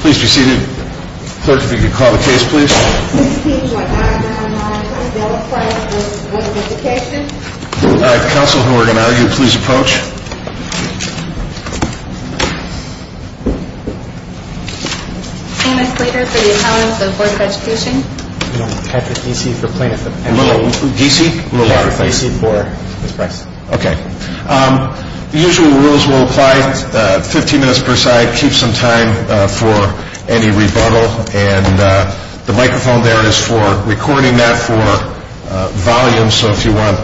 Please be seated. Clerk, if you could call the case, please. 16.9.9. Will apply for Board of Education. Council, who are going to argue, please approach. Thomas Leder for the accountants of Board of Education. Patrick Deesey for plaintiff. Deesey? Deesey for Ms. Price. Okay. The usual rules will apply. 15 minutes per side. Keep some time for any rebuttal. And the microphone there is for recording that for volume. So if you want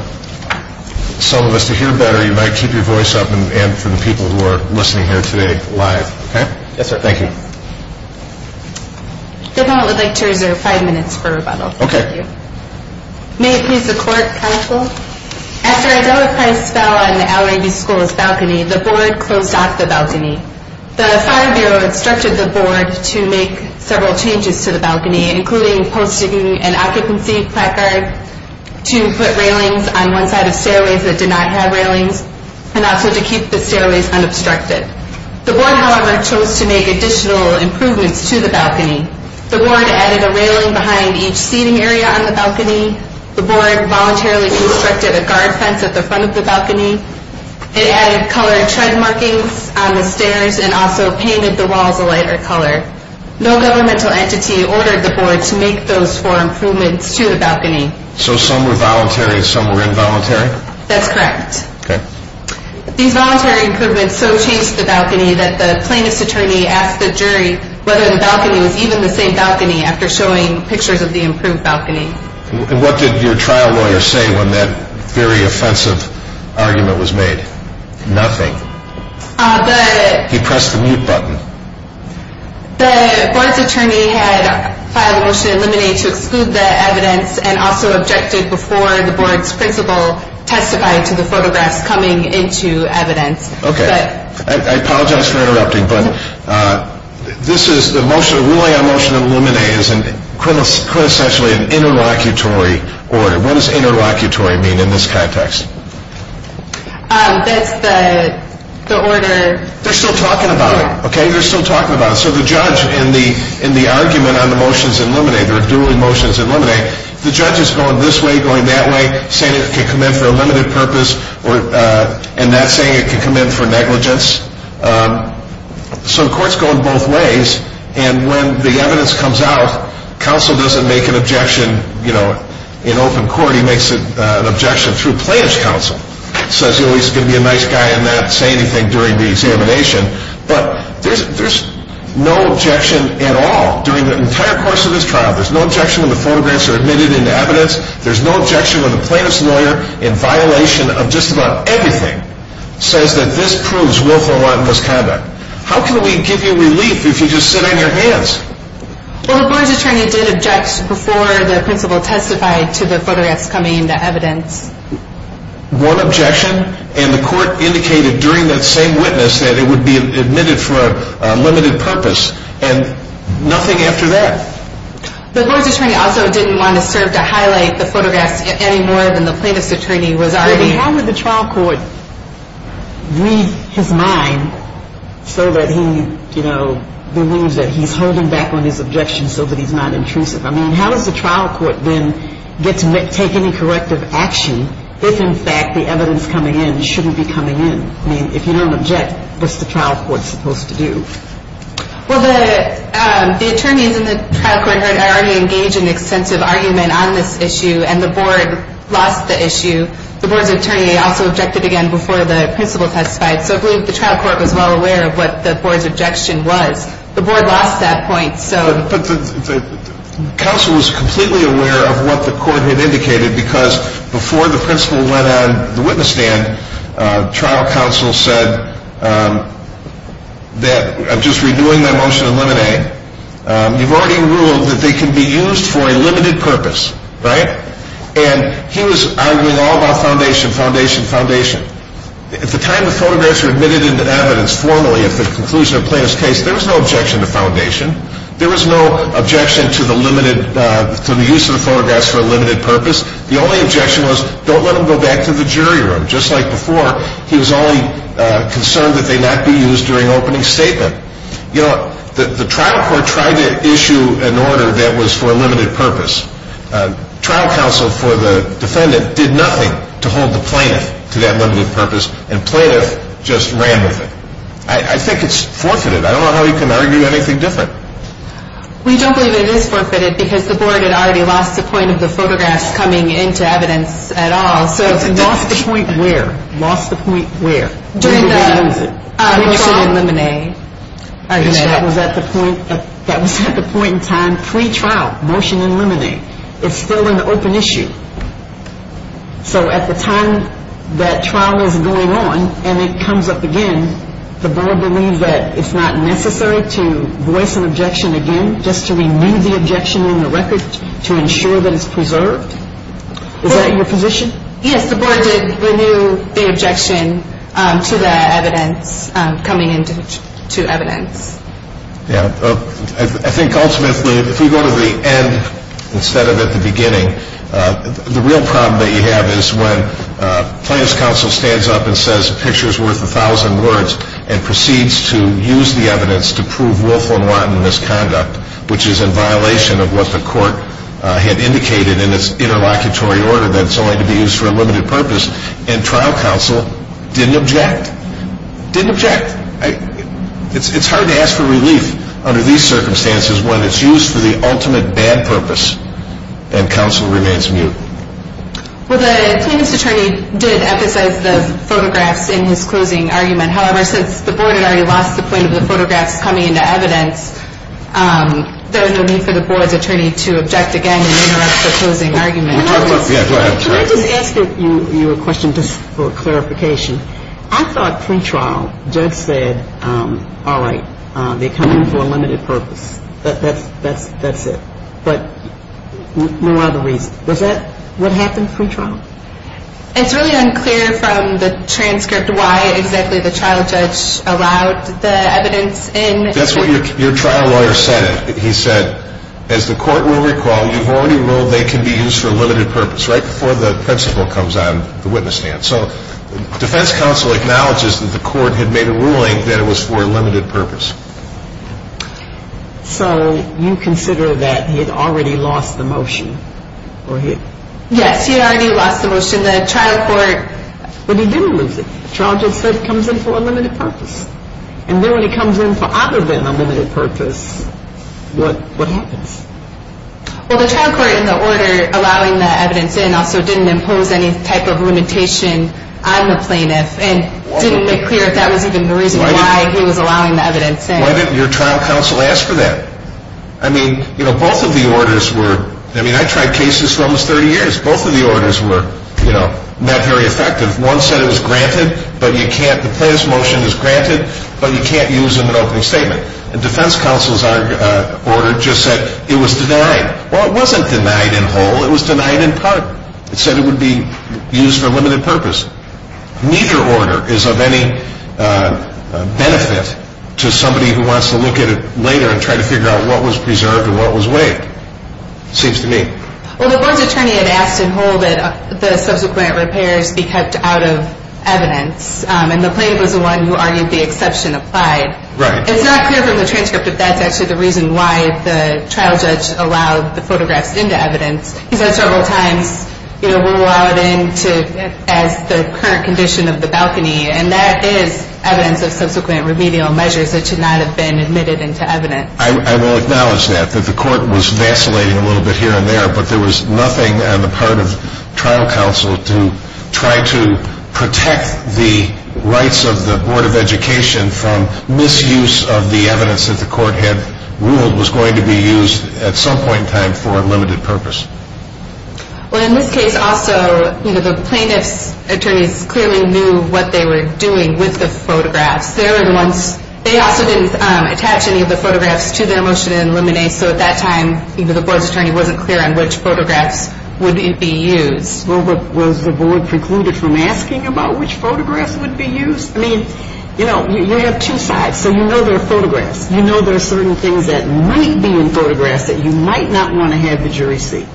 some of us to hear better, you might keep your voice up and for the people who are listening here today live. Okay? Yes, sir. Thank you. Good moment would like to reserve five minutes for rebuttal. Okay. Thank you. May it please the clerk, council. After Adela Price fell on the L.A.B. School's balcony, the board closed off the balcony. The fire bureau instructed the board to make several changes to the balcony, including posting an occupancy placard, to put railings on one side of stairways that did not have railings, and also to keep the stairways unobstructed. The board, however, chose to make additional improvements to the balcony. The board added a railing behind each seating area on the balcony. The board voluntarily constructed a guard fence at the front of the balcony. It added colored tread markings on the stairs and also painted the walls a lighter color. No governmental entity ordered the board to make those four improvements to the balcony. So some were voluntary and some were involuntary? That's correct. Okay. These voluntary improvements so changed the balcony that the plaintiff's attorney asked the jury whether the balcony was even the same balcony after showing pictures of the improved balcony. And what did your trial lawyer say when that very offensive argument was made? Nothing. He pressed the mute button. The board's attorney had filed a motion to eliminate to exclude that evidence and also objected before the board's principal testified to the photographs coming into evidence. Okay. I apologize for interrupting, but ruling on motion to eliminate is quintessentially an interlocutory order. What does interlocutory mean in this context? That's the order. They're still talking about it, okay? They're still talking about it. So the judge in the argument on the motions to eliminate or dueling motions to eliminate, the judge is going this way, going that way, saying it can come in for a limited purpose and not saying it can come in for negligence. So courts go in both ways. And when the evidence comes out, counsel doesn't make an objection in open court. He makes an objection through plaintiff's counsel, says he's going to be a nice guy and not say anything during the examination. But there's no objection at all during the entire course of this trial. There's no objection when the photographs are admitted into evidence. There's no objection when the plaintiff's lawyer, in violation of just about everything, says that this proves willful or wanton misconduct. How can we give you relief if you just sit on your hands? Well, the board's attorney did object before the principal testified to the photographs coming into evidence. One objection, and the court indicated during that same witness that it would be admitted for a limited purpose, and nothing after that. The board's attorney also didn't want to serve to highlight the photographs any more than the plaintiff's attorney was already. How would the trial court read his mind so that he, you know, believes that he's holding back on his objections so that he's not intrusive? I mean, how does the trial court then get to take any corrective action if, in fact, the evidence coming in shouldn't be coming in? I mean, if you don't object, what's the trial court supposed to do? Well, the attorneys in the trial court are already engaged in extensive argument on this issue, and the board lost the issue. The board's attorney also objected again before the principal testified, so I believe the trial court was well aware of what the board's objection was. The board lost that point, so. But the counsel was completely aware of what the court had indicated because before the principal went on the witness stand, trial counsel said that I'm just redoing that motion in limine. You've already ruled that they can be used for a limited purpose, right? And he was arguing all about foundation, foundation, foundation. At the time the photographs were admitted into evidence formally at the conclusion of the plaintiff's case, there was no objection to foundation. There was no objection to the use of the photographs for a limited purpose. The only objection was don't let them go back to the jury room. Just like before, he was only concerned that they not be used during opening statement. You know, the trial court tried to issue an order that was for a limited purpose. Trial counsel for the defendant did nothing to hold the plaintiff to that limited purpose, and plaintiff just ran with it. I think it's forfeited. I don't know how you can argue anything different. We don't believe it is forfeited because the board had already lost the point of the photographs coming into evidence at all. Lost the point where? Lost the point where? During the motion in limine. That was at the point in time pre-trial, motion in limine. It's still an open issue. So at the time that trial is going on and it comes up again, the board believes that it's not necessary to voice an objection again, just to renew the objection in the record to ensure that it's preserved? Is that your position? Yes, the board did renew the objection to the evidence coming into evidence. I think ultimately, if we go to the end instead of at the beginning, the real problem that you have is when plaintiff's counsel stands up and says a picture is worth a thousand words and proceeds to use the evidence to prove Wolf and Watton misconduct, which is in violation of what the court had indicated in its interlocutory order that it's only to be used for a limited purpose, and trial counsel didn't object. Didn't object. It's hard to ask for relief under these circumstances when it's used for the ultimate bad purpose and counsel remains mute. Well, the plaintiff's attorney did emphasize the photographs in his closing argument. However, since the board had already lost the point of the photographs coming into evidence, there was no need for the board's attorney to object again and interrupt the closing argument. Can I just ask you a question just for clarification? I thought pre-trial judge said, all right, they're coming for a limited purpose. That's it. But what were the reasons? Was that what happened pre-trial? It's really unclear from the transcript why exactly the trial judge allowed the evidence in. That's what your trial lawyer said. He said, as the court will recall, you've already ruled they can be used for a limited purpose right before the principal comes on the witness stand. So defense counsel acknowledges that the court had made a ruling that it was for a limited purpose. So you consider that he had already lost the motion? Yes, he had already lost the motion. The trial court. But he didn't lose it. The trial judge said it comes in for a limited purpose. And then when it comes in for other than a limited purpose, what happens? Well, the trial court in the order allowing the evidence in also didn't impose any type of limitation on the plaintiff and didn't make clear if that was even the reason why he was allowing the evidence in. Why didn't your trial counsel ask for that? I mean, you know, both of the orders were, I mean, I tried cases for almost 30 years. Both of the orders were, you know, not very effective. One said it was granted, but you can't, the plaintiff's motion is granted, but you can't use them in an opening statement. The defense counsel's order just said it was denied. Well, it wasn't denied in whole. It was denied in part. It said it would be used for a limited purpose. Neither order is of any benefit to somebody who wants to look at it later and try to figure out what was preserved and what was waived, it seems to me. Well, the board's attorney had asked in whole that the subsequent repairs be kept out of evidence, and the plaintiff was the one who argued the exception applied. Right. It's not clear from the transcript if that's actually the reason why the trial judge allowed the photographs into evidence. He said several times, you know, we'll allow it in as the current condition of the balcony, and that is evidence of subsequent remedial measures that should not have been admitted into evidence. I will acknowledge that, that the court was vacillating a little bit here and there, but there was nothing on the part of trial counsel to try to protect the rights of the Board of Education from misuse of the evidence that the court had ruled was going to be used at some point in time for a limited purpose. Well, in this case also, you know, the plaintiff's attorneys clearly knew what they were doing with the photographs. They also didn't attach any of the photographs to their motion in limine, so at that time either the board's attorney wasn't clear on which photographs would be used. Well, was the board precluded from asking about which photographs would be used? I mean, you know, you have two sides, so you know there are photographs. You know there are certain things that might be in photographs that you might not want to have the jury see.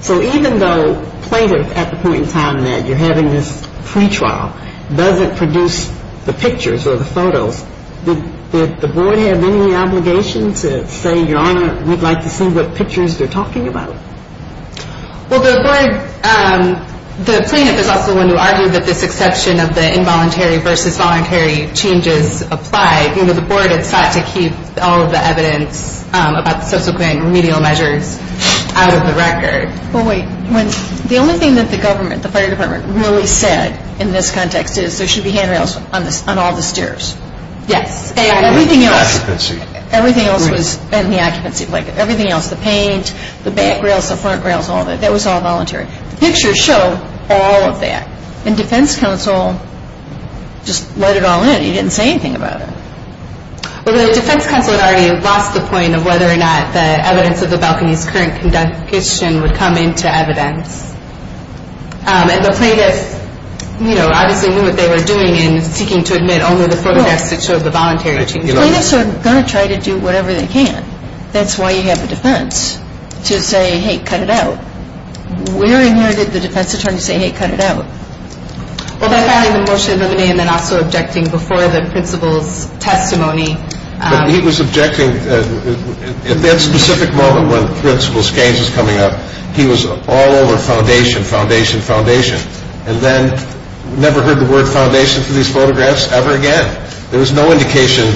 So even though plaintiff at the point in time that you're having this pretrial doesn't produce the pictures or the photos, did the board have any obligation to say, Your Honor, we'd like to see what pictures they're talking about? Well, the board, the plaintiff is also the one who argued that this exception of the involuntary versus voluntary changes applied. You know, the board had sought to keep all of the evidence about the subsequent remedial measures out of the record. Well, wait, the only thing that the government, the fire department, really said in this context is there should be handrails on all the stairs. Yes. And everything else was in the occupancy blanket. Everything else, the paint, the back rails, the front rails, all of it, that was all voluntary. The pictures show all of that. And defense counsel just let it all in. He didn't say anything about it. Well, the defense counsel had already lost the point of whether or not the evidence of the balcony's current condition would come into evidence. And the plaintiff, you know, obviously knew what they were doing in seeking to admit only the photographs that showed the voluntary change. Plaintiffs are going to try to do whatever they can. That's why you have a defense to say, Hey, cut it out. Where in here did the defense attorney say, Hey, cut it out? Well, by filing the motion and then also objecting before the principal's testimony. But he was objecting at that specific moment when Principal Skanes was coming up. He was all over foundation, foundation, foundation. And then never heard the word foundation for these photographs ever again. There was no indication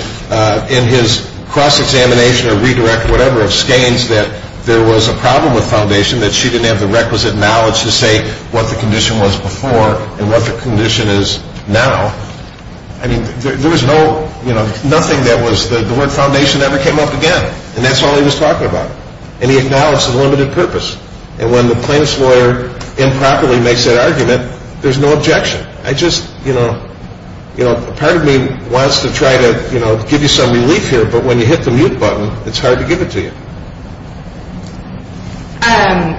in his cross-examination or redirect or whatever of Skanes that there was a problem with foundation, that she didn't have the requisite knowledge to say what the condition was before and what the condition is now. I mean, there was no, you know, nothing that was, the word foundation never came up again. And that's all he was talking about. And he acknowledged the limited purpose. And when the plaintiff's lawyer improperly makes that argument, there's no objection. I just, you know, you know, part of me wants to try to, you know, give you some relief here. But when you hit the mute button, it's hard to give it to you. Um,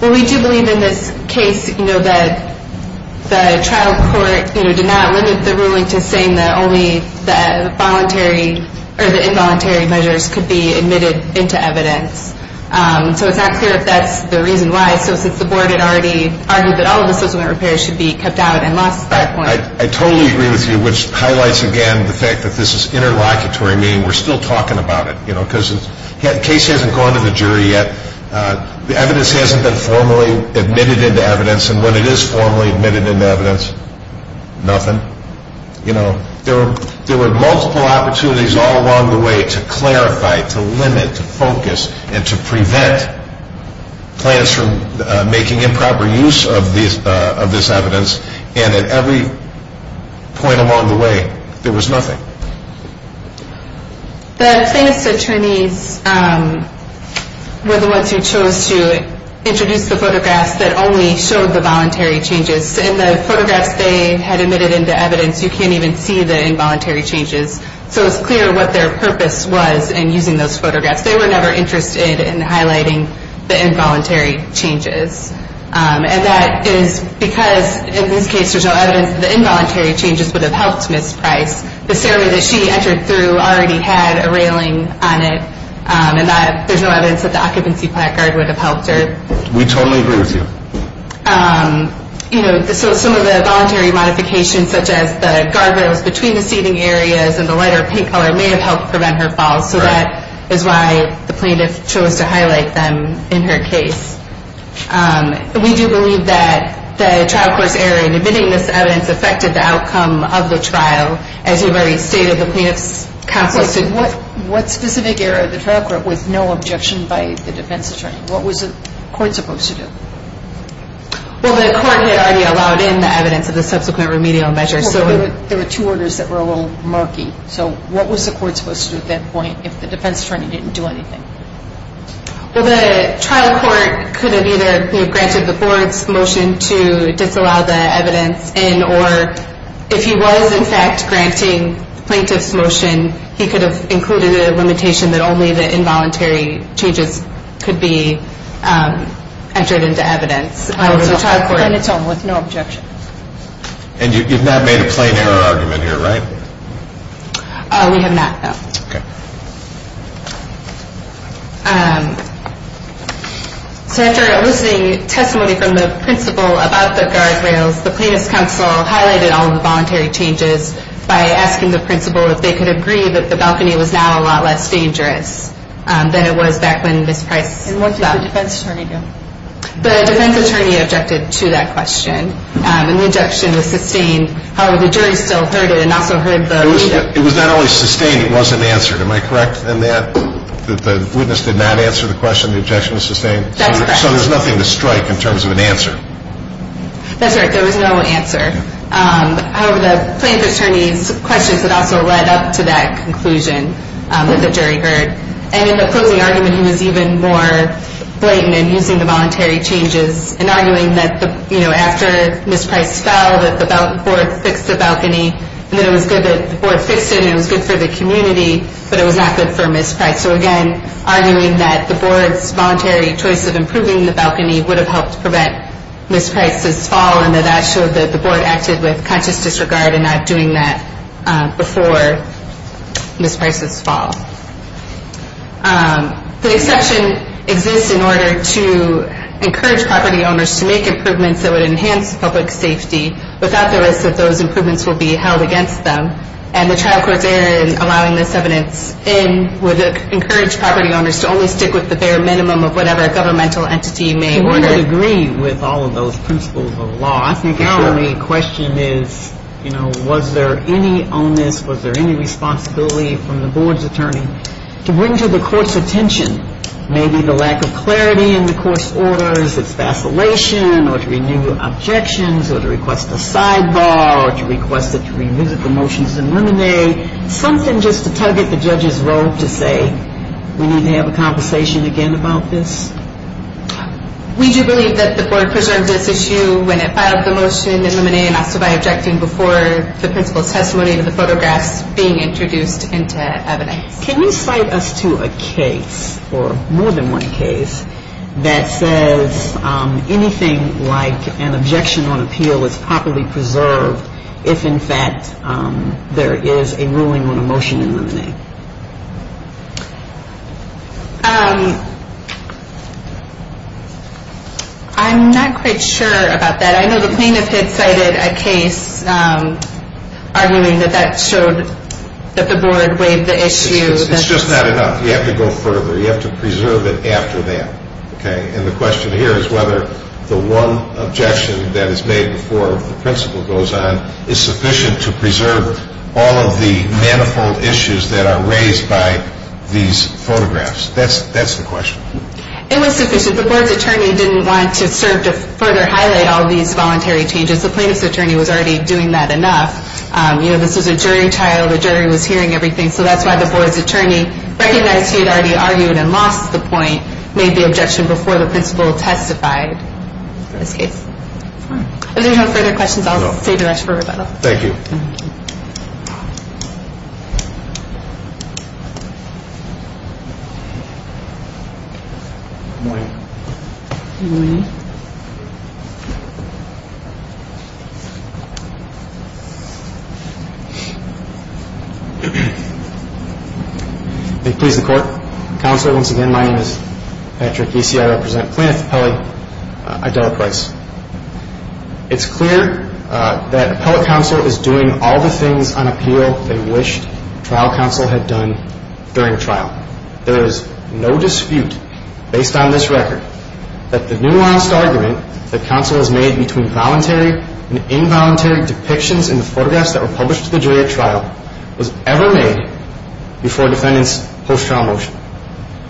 well, we do believe in this case, you know, that the trial court, you know, did not limit the ruling to saying that only the voluntary or the involuntary measures could be admitted into evidence. So it's not clear if that's the reason why. So since the board had already argued that all of the supplement repairs should be kept out and lost at that point. I totally agree with you, which highlights again the fact that this is interlocutory, meaning we're still talking about it. You know, because the case hasn't gone to the jury yet. The evidence hasn't been formally admitted into evidence. And when it is formally admitted into evidence, nothing. You know, there were multiple opportunities all along the way to clarify, to limit, to focus, and to prevent plaintiffs from making improper use of this evidence. And at every point along the way, there was nothing. The plaintiff's attorneys were the ones who chose to introduce the photographs that only showed the voluntary changes. In the photographs they had admitted into evidence, you can't even see the involuntary changes. So it's clear what their purpose was in using those photographs. They were never interested in highlighting the involuntary changes. And that is because in this case there's no evidence that the involuntary changes would have helped Ms. Price. The ceremony that she entered through already had a railing on it. And there's no evidence that the occupancy plaque guard would have helped her. We totally agree with you. You know, some of the voluntary modifications such as the guardrails between the seating areas and the lighter pink color may have helped prevent her fall. So that is why the plaintiff chose to highlight them in her case. We do believe that the trial court's error in admitting this evidence affected the outcome of the trial as your very state of the plaintiff's counsel stood. What specific error of the trial court with no objection by the defense attorney? What was the court supposed to do? Well, the court had already allowed in the evidence of the subsequent remedial measures. There were two orders that were a little murky. So what was the court supposed to do at that point if the defense attorney didn't do anything? Well, the trial court could have either granted the board's motion to disallow the evidence and or if he was, in fact, granting the plaintiff's motion, he could have included a limitation that only the involuntary changes could be entered into evidence. And it's all with no objection. And you've not made a plain error argument here, right? We have not, no. Okay. So after elucidating testimony from the principal about the guardrails, the plaintiff's counsel highlighted all of the voluntary changes by asking the principal if they could agree that the balcony was now a lot less dangerous than it was back when Ms. Price stopped. And what did the defense attorney do? The defense attorney objected to that question. And the objection was sustained. However, the jury still heard it and also heard the lead up. It was not only sustained, it wasn't answered. Am I correct in that, that the witness did not answer the question, the objection was sustained? That's correct. So there's nothing to strike in terms of an answer. That's right. There was no answer. However, the plaintiff's attorney's questions had also led up to that conclusion that the jury heard. And in the closing argument, he was even more blatant in using the voluntary changes and arguing that, you know, after Ms. Price fell, that the board fixed the balcony and that it was good that the board fixed it and it was good for the community, but it was not good for Ms. Price. So, again, arguing that the board's voluntary choice of improving the balcony would have helped prevent Ms. Price's fall and that that showed that the board acted with conscious disregard and not doing that before Ms. Price's fall. The exception exists in order to encourage property owners to make improvements that would enhance public safety without the risk that those improvements will be held against them. And the trial court's error in allowing this evidence in would encourage property owners to only stick with the bare minimum of whatever governmental entity may order. I agree with all of those principles of law. I think the only question is, you know, was there any onus, was there any responsibility from the board's attorney to bring to the court's attention maybe the lack of clarity in the court's orders, its vacillation, or to renew objections, or to request a sidebar, or to request that we revisit the motions in limine, something just to target the judge's role to say, we need to have a conversation again about this? We do believe that the board preserves its issue when it filed the motion in limine and also by objecting before the principal's testimony to the photographs being introduced into evidence. Can you cite us to a case, or more than one case, that says anything like an objection on appeal is properly preserved if in fact there is a ruling on a motion in limine? I'm not quite sure about that. I'm arguing that that showed that the board waived the issue. It's just not enough. You have to go further. You have to preserve it after that, okay? And the question here is whether the one objection that is made before the principal goes on is sufficient to preserve all of the manifold issues that are raised by these photographs. That's the question. It was sufficient. The board's attorney didn't want to serve to further highlight all these voluntary changes. The plaintiff's attorney was already doing that enough. You know, this was a jury trial. The jury was hearing everything. So that's why the board's attorney recognized he had already argued and lost the point, made the objection before the principal testified in this case. If there are no further questions, I'll save the rest for rebuttal. Thank you. Good morning. Good morning. Thank you. May it please the Court. Counsel, once again, my name is Patrick Giese. I represent Plaintiff Appellee Idella Price. It's clear that appellate counsel is doing all the things on appeal they wished trial counsel had done during trial. There is no dispute, based on this record, that the nuanced argument that counsel has made between voluntary and involuntary depictions in the photographs that were published to the jury at trial was ever made before a defendant's post-trial motion.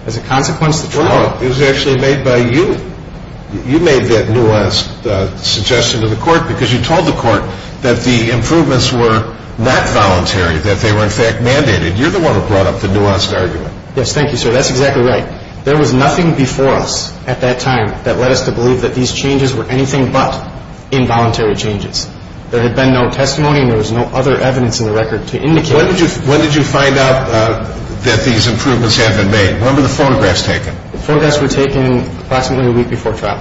As a consequence, the trial... Well, it was actually made by you. You made that nuanced suggestion to the court because you told the court that the improvements were not voluntary, that they were, in fact, mandated. You're the one who brought up the nuanced argument. Yes, thank you, sir. That's exactly right. There was nothing before us at that time that led us to believe that these changes were anything but involuntary changes. There had been no testimony, and there was no other evidence in the record to indicate... When did you find out that these improvements had been made? When were the photographs taken? The photographs were taken approximately a week before trial.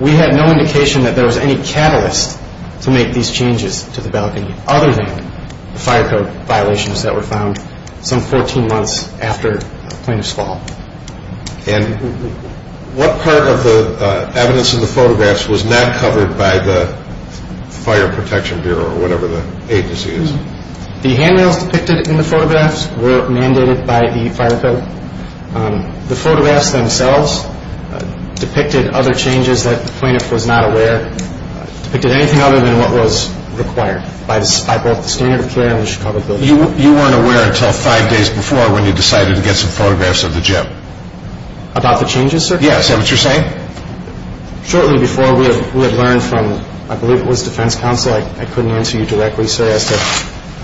We had no indication that there was any catalyst to make these changes to the bailiff other than the fire code violations that were found some 14 months after the plaintiff's fall. And what part of the evidence in the photographs was not covered by the Fire Protection Bureau or whatever the agency is? The handrails depicted in the photographs were mandated by the fire code. The photographs themselves depicted other changes that the plaintiff was not aware, depicted anything other than what was required by both the standard of care and the Chicago building. You weren't aware until five days before when you decided to get some photographs of the gym. About the changes, sir? Yes, is that what you're saying? Shortly before, we had learned from, I believe it was Defense Counsel, I couldn't answer you directly, sir, as to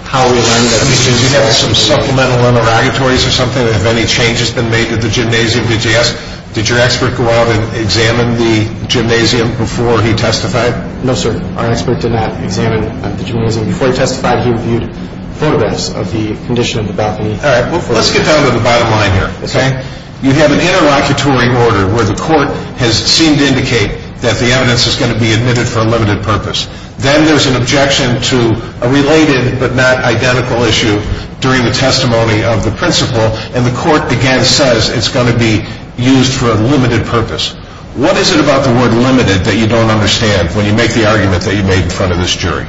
how we learned that... Did you have some supplemental interrogatories or something? Have any changes been made to the gymnasium? Did your expert go out and examine the gymnasium before he testified? No, sir, our expert did not examine the gymnasium. Before he testified, he reviewed photographs of the condition of the balcony. All right, well, let's get down to the bottom line here, okay? You have an interlocutory order where the court has seemed to indicate that the evidence is going to be admitted for a limited purpose. Then there's an objection to a related but not identical issue during the testimony of the principal, and the court, again, says it's going to be used for a limited purpose. What is it about the word limited that you don't understand when you make the argument that you made in front of this jury?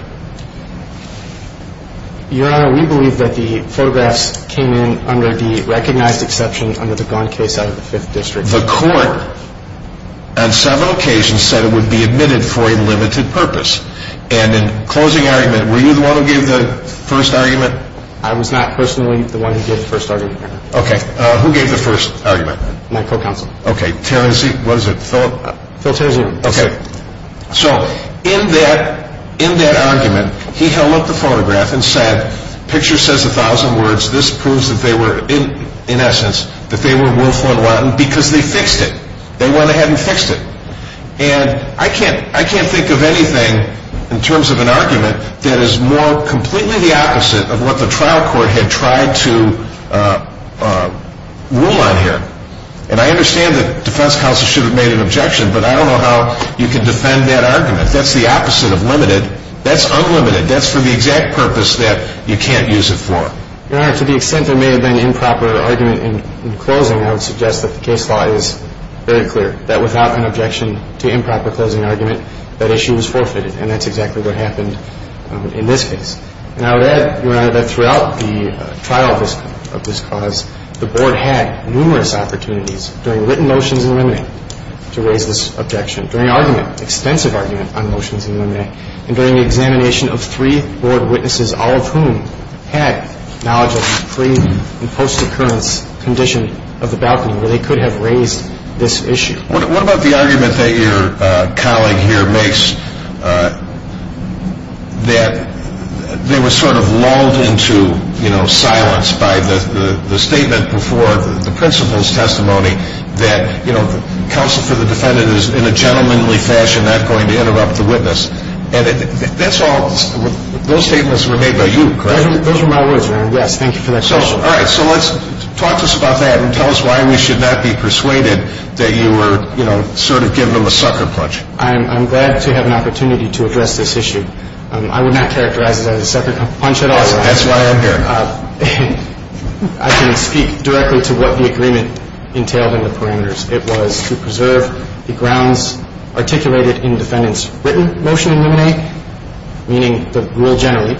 Your Honor, we believe that the photographs came in under the recognized exception under the Gone case out of the Fifth District. The court on several occasions said it would be admitted for a limited purpose. And in closing argument, were you the one who gave the first argument? I was not personally the one who gave the first argument, Your Honor. Okay, who gave the first argument? My co-counsel. Okay, Terrenzi, what is it, Philip? Phil Terrenzi. Okay, so in that argument, he held up the photograph and said, picture says a thousand words, this proves that they were, in essence, that they were willful and wanton because they fixed it. They went ahead and fixed it. And I can't think of anything in terms of an argument that is more completely the opposite of what the trial court had tried to rule on here. And I understand that defense counsel should have made an objection, but I don't know how you can defend that argument. That's the opposite of limited. That's unlimited. That's for the exact purpose that you can't use it for. Your Honor, to the extent there may have been improper argument in closing, I would suggest that the case law is very clear, that without an objection to improper closing argument, that issue was forfeited, and that's exactly what happened in this case. And I would add, Your Honor, that throughout the trial of this cause, the Board had numerous opportunities during written motions in limine to raise this objection, during argument, extensive argument on motions in limine, and during the examination of three Board witnesses, all of whom had knowledge of the pre- and post-occurrence condition of the balcony where they could have raised this issue. What about the argument that your colleague here makes that they were sort of lulled into, you know, silence by the statement before the principal's testimony that, you know, counsel for the defendant is in a gentlemanly fashion not going to interrupt the witness. And that's all, those statements were made by you, correct? Those were my words, Your Honor. Yes, thank you for that question. All right. So let's, talk to us about that and tell us why we should not be persuaded that you were, you know, sort of giving them a sucker punch. I'm glad to have an opportunity to address this issue. I would not characterize it as a sucker punch at all. That's why I'm here. I can speak directly to what the agreement entailed in the parameters. It was to preserve the grounds articulated in the defendant's written motion illuminate, meaning the rule generally,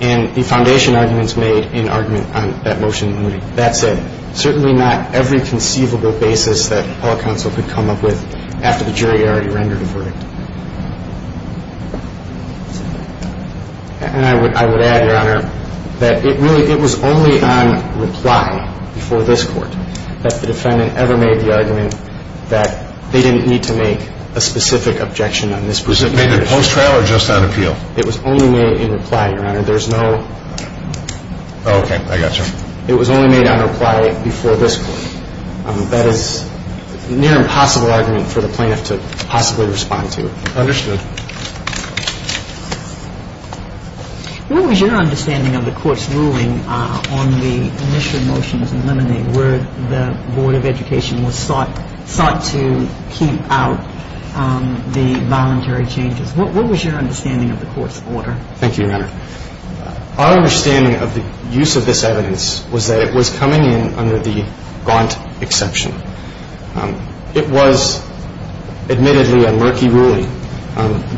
and the foundation arguments made in argument on that motion illuminate. That said, certainly not every conceivable basis that all counsel could come up with after the jury already rendered a verdict. And I would add, Your Honor, that it really, it was only on reply before this court that the defendant ever made the argument that they didn't need to make a specific objection on this particular issue. Was it made in post-trial or just on appeal? It was only made in reply, Your Honor. There's no. Okay, I got you. It was only made on reply before this court. That is near impossible argument for the plaintiff to possibly respond to. Understood. What was your understanding of the court's ruling on the initial motions illuminate where the Board of Education was sought to keep out the voluntary changes? What was your understanding of the court's order? Thank you, Your Honor. Our understanding of the use of this evidence was that it was coming in under the Gaunt exception. It was admittedly a murky ruling.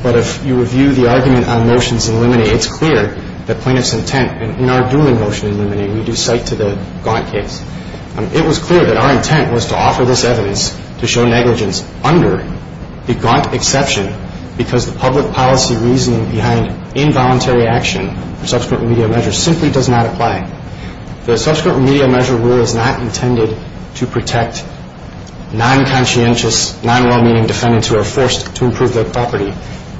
But if you review the argument on motions illuminate, it's clear that plaintiff's intent in our dueling motion illuminate, we do cite to the Gaunt case. It was clear that our intent was to offer this evidence to show negligence under the Gaunt exception because the public policy reasoning behind involuntary action for subsequent remedial measures simply does not apply. The subsequent remedial measure rule is not intended to protect non-conscientious, non-well-meaning defendants who are forced to improve their property.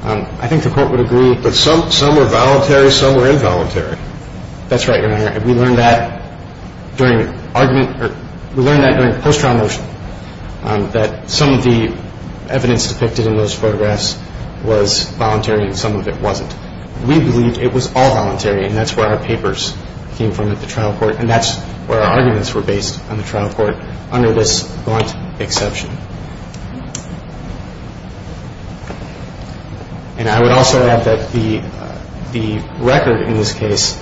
I think the court would agree. But some are voluntary, some are involuntary. That's right, Your Honor. We learned that during post-trial motion that some of the evidence depicted in those photographs was voluntary and some of it wasn't. We believe it was all voluntary and that's where our papers came from at the trial court and that's where our arguments were based on the trial court under this Gaunt exception. And I would also add that the record in this case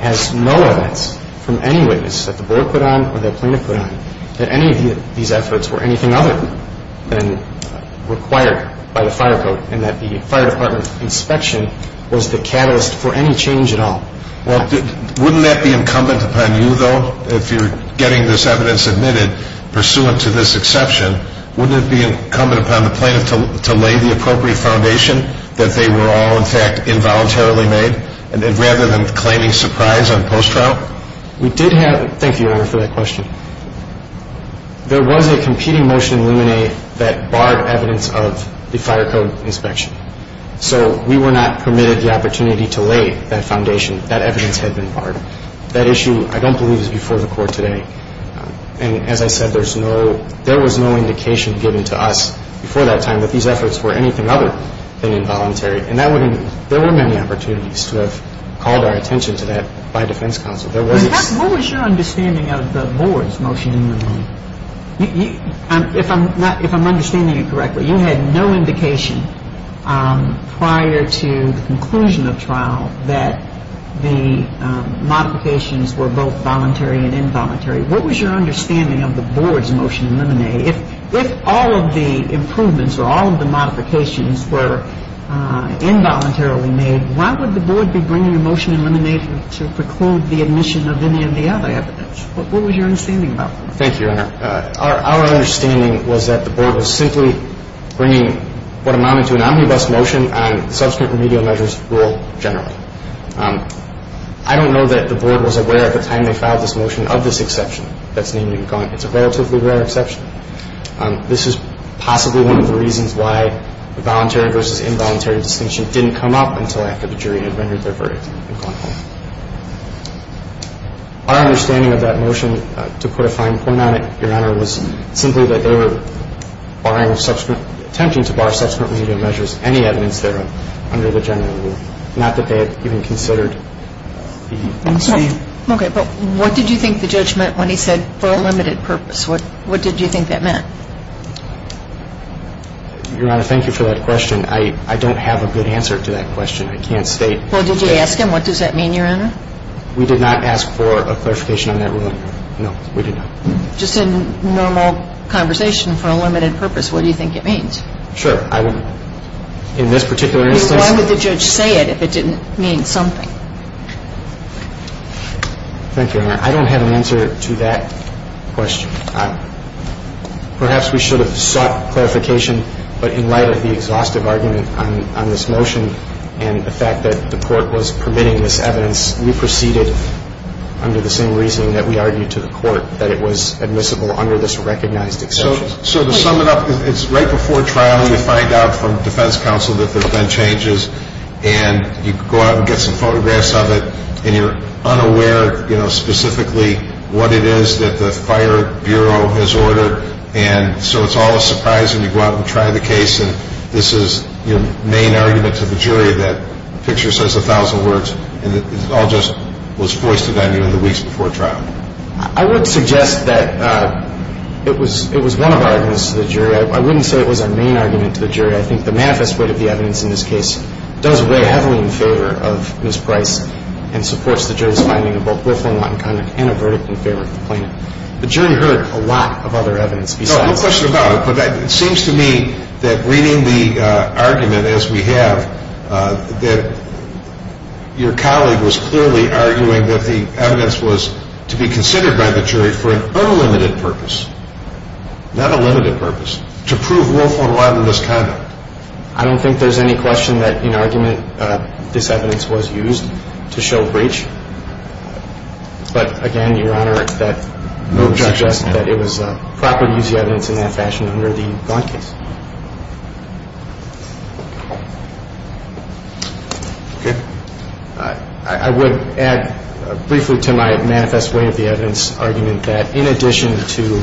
has no evidence from any witness that the board put on or that plaintiff put on that any of these efforts were anything other than required by the fire code and that the fire department inspection was the catalyst for any change at all. Well, wouldn't that be incumbent upon you, though, if you're getting this evidence admitted pursuant to this exception, wouldn't it be incumbent upon the plaintiff to lay the appropriate foundation that they were all, in fact, involuntarily made rather than claiming surprise on post-trial? We did have, thank you, Your Honor, for that question. There was a competing motion in Luminae that barred evidence of the fire code inspection. So we were not permitted the opportunity to lay that foundation. That evidence had been barred. That issue, I don't believe, is before the Court today. And as I said, there was no indication given to us before that time that these efforts were anything other than involuntary. And there were many opportunities to have called our attention to that by defense counsel. What was your understanding of the board's motion in Luminae? If I'm understanding you correctly, you had no indication prior to the conclusion of trial that the modifications were both voluntary and involuntary. What was your understanding of the board's motion in Luminae? If all of the improvements or all of the modifications were involuntarily made, why would the board be bringing a motion in Luminae to preclude the admission of any of the other evidence? What was your understanding about that? Thank you, Your Honor. Our understanding was that the board was simply bringing what amounted to an omnibus motion on the subsequent remedial measures rule generally. I don't know that the board was aware at the time they filed this motion of this exception that's named in gun. It's a relatively rare exception. This is possibly one of the reasons why the voluntary versus involuntary distinction didn't come up until after the jury had rendered their verdict. Our understanding of that motion, to put a fine point on it, Your Honor, was simply that they were barring subsequent attempting to bar subsequent remedial measures, any evidence thereof, under the general rule, not that they had even considered the exception. Okay. But what did you think the judge meant when he said for a limited purpose? What did you think that meant? Your Honor, thank you for that question. I don't have a good answer to that question. I can't state. Well, did you ask him what does that mean, Your Honor? We did not ask for a clarification on that ruling. No, we did not. Just in normal conversation for a limited purpose, what do you think it means? Sure. In this particular instance. Why would the judge say it if it didn't mean something? Thank you, Your Honor. I don't have an answer to that question. Perhaps we should have sought clarification, but in light of the exhaustive argument on this motion and the fact that the court was permitting this evidence, we proceeded under the same reasoning that we argued to the court, that it was admissible under this recognized exception. So to sum it up, it's right before trial you find out from defense counsel that there have been changes and you go out and get some photographs of it and you're unaware, you know, specifically what it is that the fire bureau has ordered, and so it's all a surprise when you go out and try the case and this is your main argument to the jury that the picture says a thousand words and it all just was foisted on you in the weeks before trial. I would suggest that it was one of our arguments to the jury. I wouldn't say it was our main argument to the jury. I think the manifest weight of the evidence in this case does weigh heavily in favor of Ms. Price and supports the jury's finding of both Wolfone-Watten misconduct and a verdict in favor of the plaintiff. The jury heard a lot of other evidence besides this. No, no question about it, but it seems to me that reading the argument as we have, that your colleague was clearly arguing that the evidence was to be considered by the jury for an unlimited purpose, not a limited purpose, to prove Wolfone-Watten misconduct. I don't think there's any question that in argument this evidence was used to show breach, but again, Your Honor, that would suggest that it was proper to use the evidence in that fashion under the Gantt case. Okay. I would add briefly to my manifest weight of the evidence argument that in addition to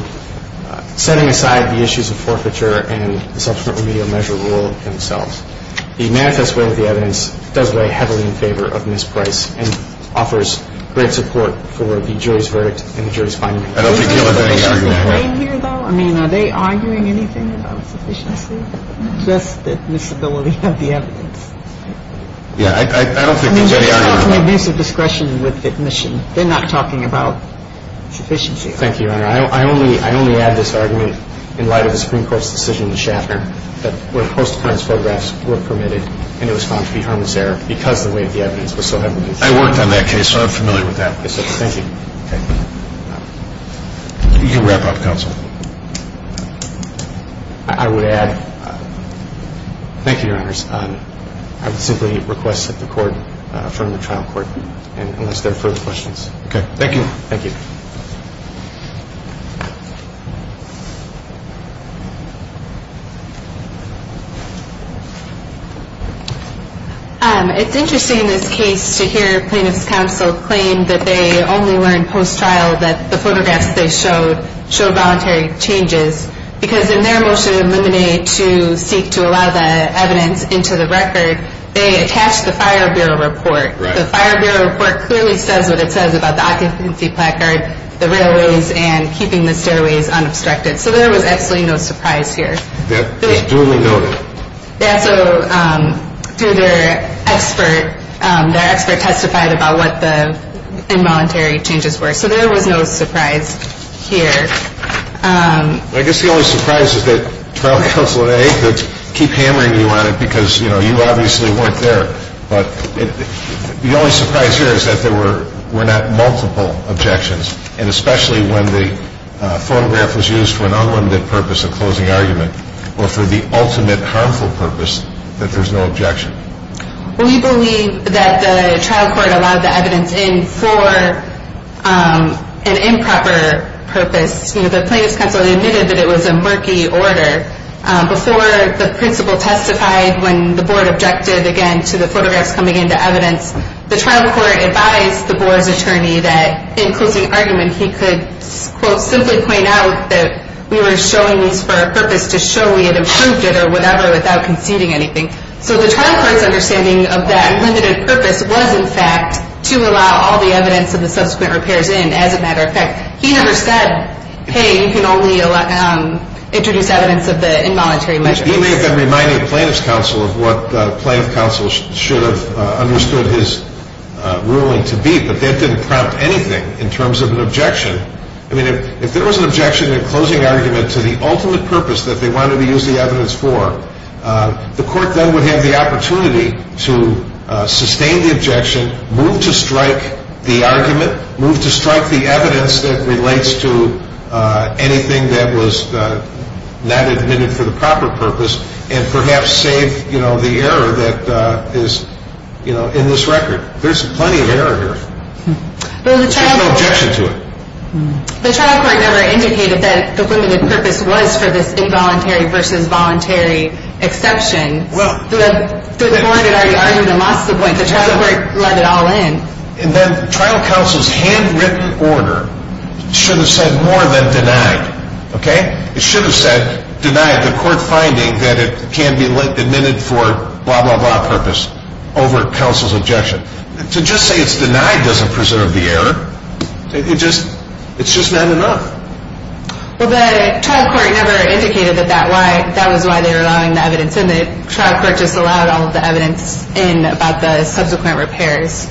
setting aside the issues of forfeiture and the subsequent remedial measure rule themselves, the manifest weight of the evidence does weigh heavily in favor of Ms. Price and offers great support for the jury's verdict and the jury's finding. Are they arguing anything about sufficiency? Just the visibility of the evidence? Yeah, I don't think there's any argument about that. I mean, they're talking about abuse of discretion with admission. They're not talking about sufficiency. Thank you, Your Honor. I only add this argument in light of the Supreme Court's decision in Schaffner that where post-deference photographs were permitted and it was found to be harmless error because the weight of the evidence was so heavily used. I worked on that case, so I'm familiar with that. Thank you. Okay. You can wrap up, Counsel. I would add, thank you, Your Honors. I would simply request that the Court affirm the trial court unless there are further questions. Okay. Thank you. Thank you. It's interesting in this case to hear plaintiff's counsel claim that they only learned post-trial that the photographs they showed showed voluntary changes because in their motion to eliminate to seek to allow the evidence into the record, they attached the Fire Bureau report. The Fire Bureau report clearly says what it says about the occupancy placard, the railways, and keeping the stairways unobstructed. So there was absolutely no surprise here. That was duly noted. Yeah, so their expert testified about what the involuntary changes were. So there was no surprise here. I guess the only surprise is that trial counsel at AA could keep hammering you on it because, you know, you obviously weren't there. But the only surprise here is that there were not multiple objections, and especially when the photograph was used for an unlimited purpose of closing argument or for the ultimate harmful purpose, that there's no objection. We believe that the trial court allowed the evidence in for an improper purpose. You know, the plaintiff's counsel admitted that it was a murky order. Before the principal testified, when the board objected, again, to the photographs coming into evidence, the trial court advised the board's attorney that in closing argument, he could, quote, simply point out that we were showing these for a purpose to show we had improved it or whatever without conceding anything. So the trial court's understanding of that unlimited purpose was, in fact, to allow all the evidence of the subsequent repairs in, as a matter of fact. He never said, hey, you can only introduce evidence of the involuntary measure. He may have been reminding the plaintiff's counsel of what the plaintiff's counsel should have understood his ruling to be, but that didn't prompt anything in terms of an objection. I mean, if there was an objection in closing argument to the ultimate purpose that they wanted to use the evidence for, the court then would have the opportunity to sustain the objection, move to strike the argument, move to strike the evidence that relates to anything that was not admitted for the proper purpose, and perhaps save the error that is in this record. There's plenty of error here. There's no objection to it. The trial court never indicated that the limited purpose was for this involuntary versus voluntary exception. The court had already argued and lost the point. The trial court let it all in. And then trial counsel's handwritten order should have said more than denied. Okay? It should have said denied the court finding that it can be admitted for blah, blah, blah purpose over counsel's objection. To just say it's denied doesn't preserve the error. It's just not enough. Well, the trial court never indicated that that was why they were allowing the evidence in. The trial court just allowed all of the evidence in about the subsequent repairs.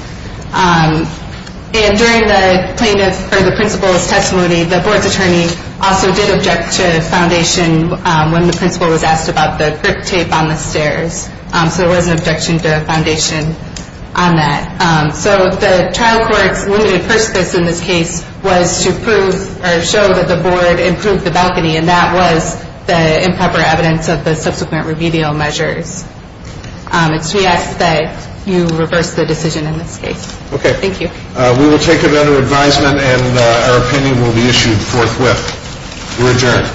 And during the plaintiff or the principal's testimony, the board's attorney also did object to foundation when the principal was asked about the grip tape on the stairs. So there was an objection to foundation on that. So the trial court's limited purpose in this case was to prove or show that the board improved the balcony, and that was the improper evidence of the subsequent remedial measures. And so we ask that you reverse the decision in this case. Okay. Thank you. We will take it under advisement, and our opinion will be issued forthwith. We're adjourned.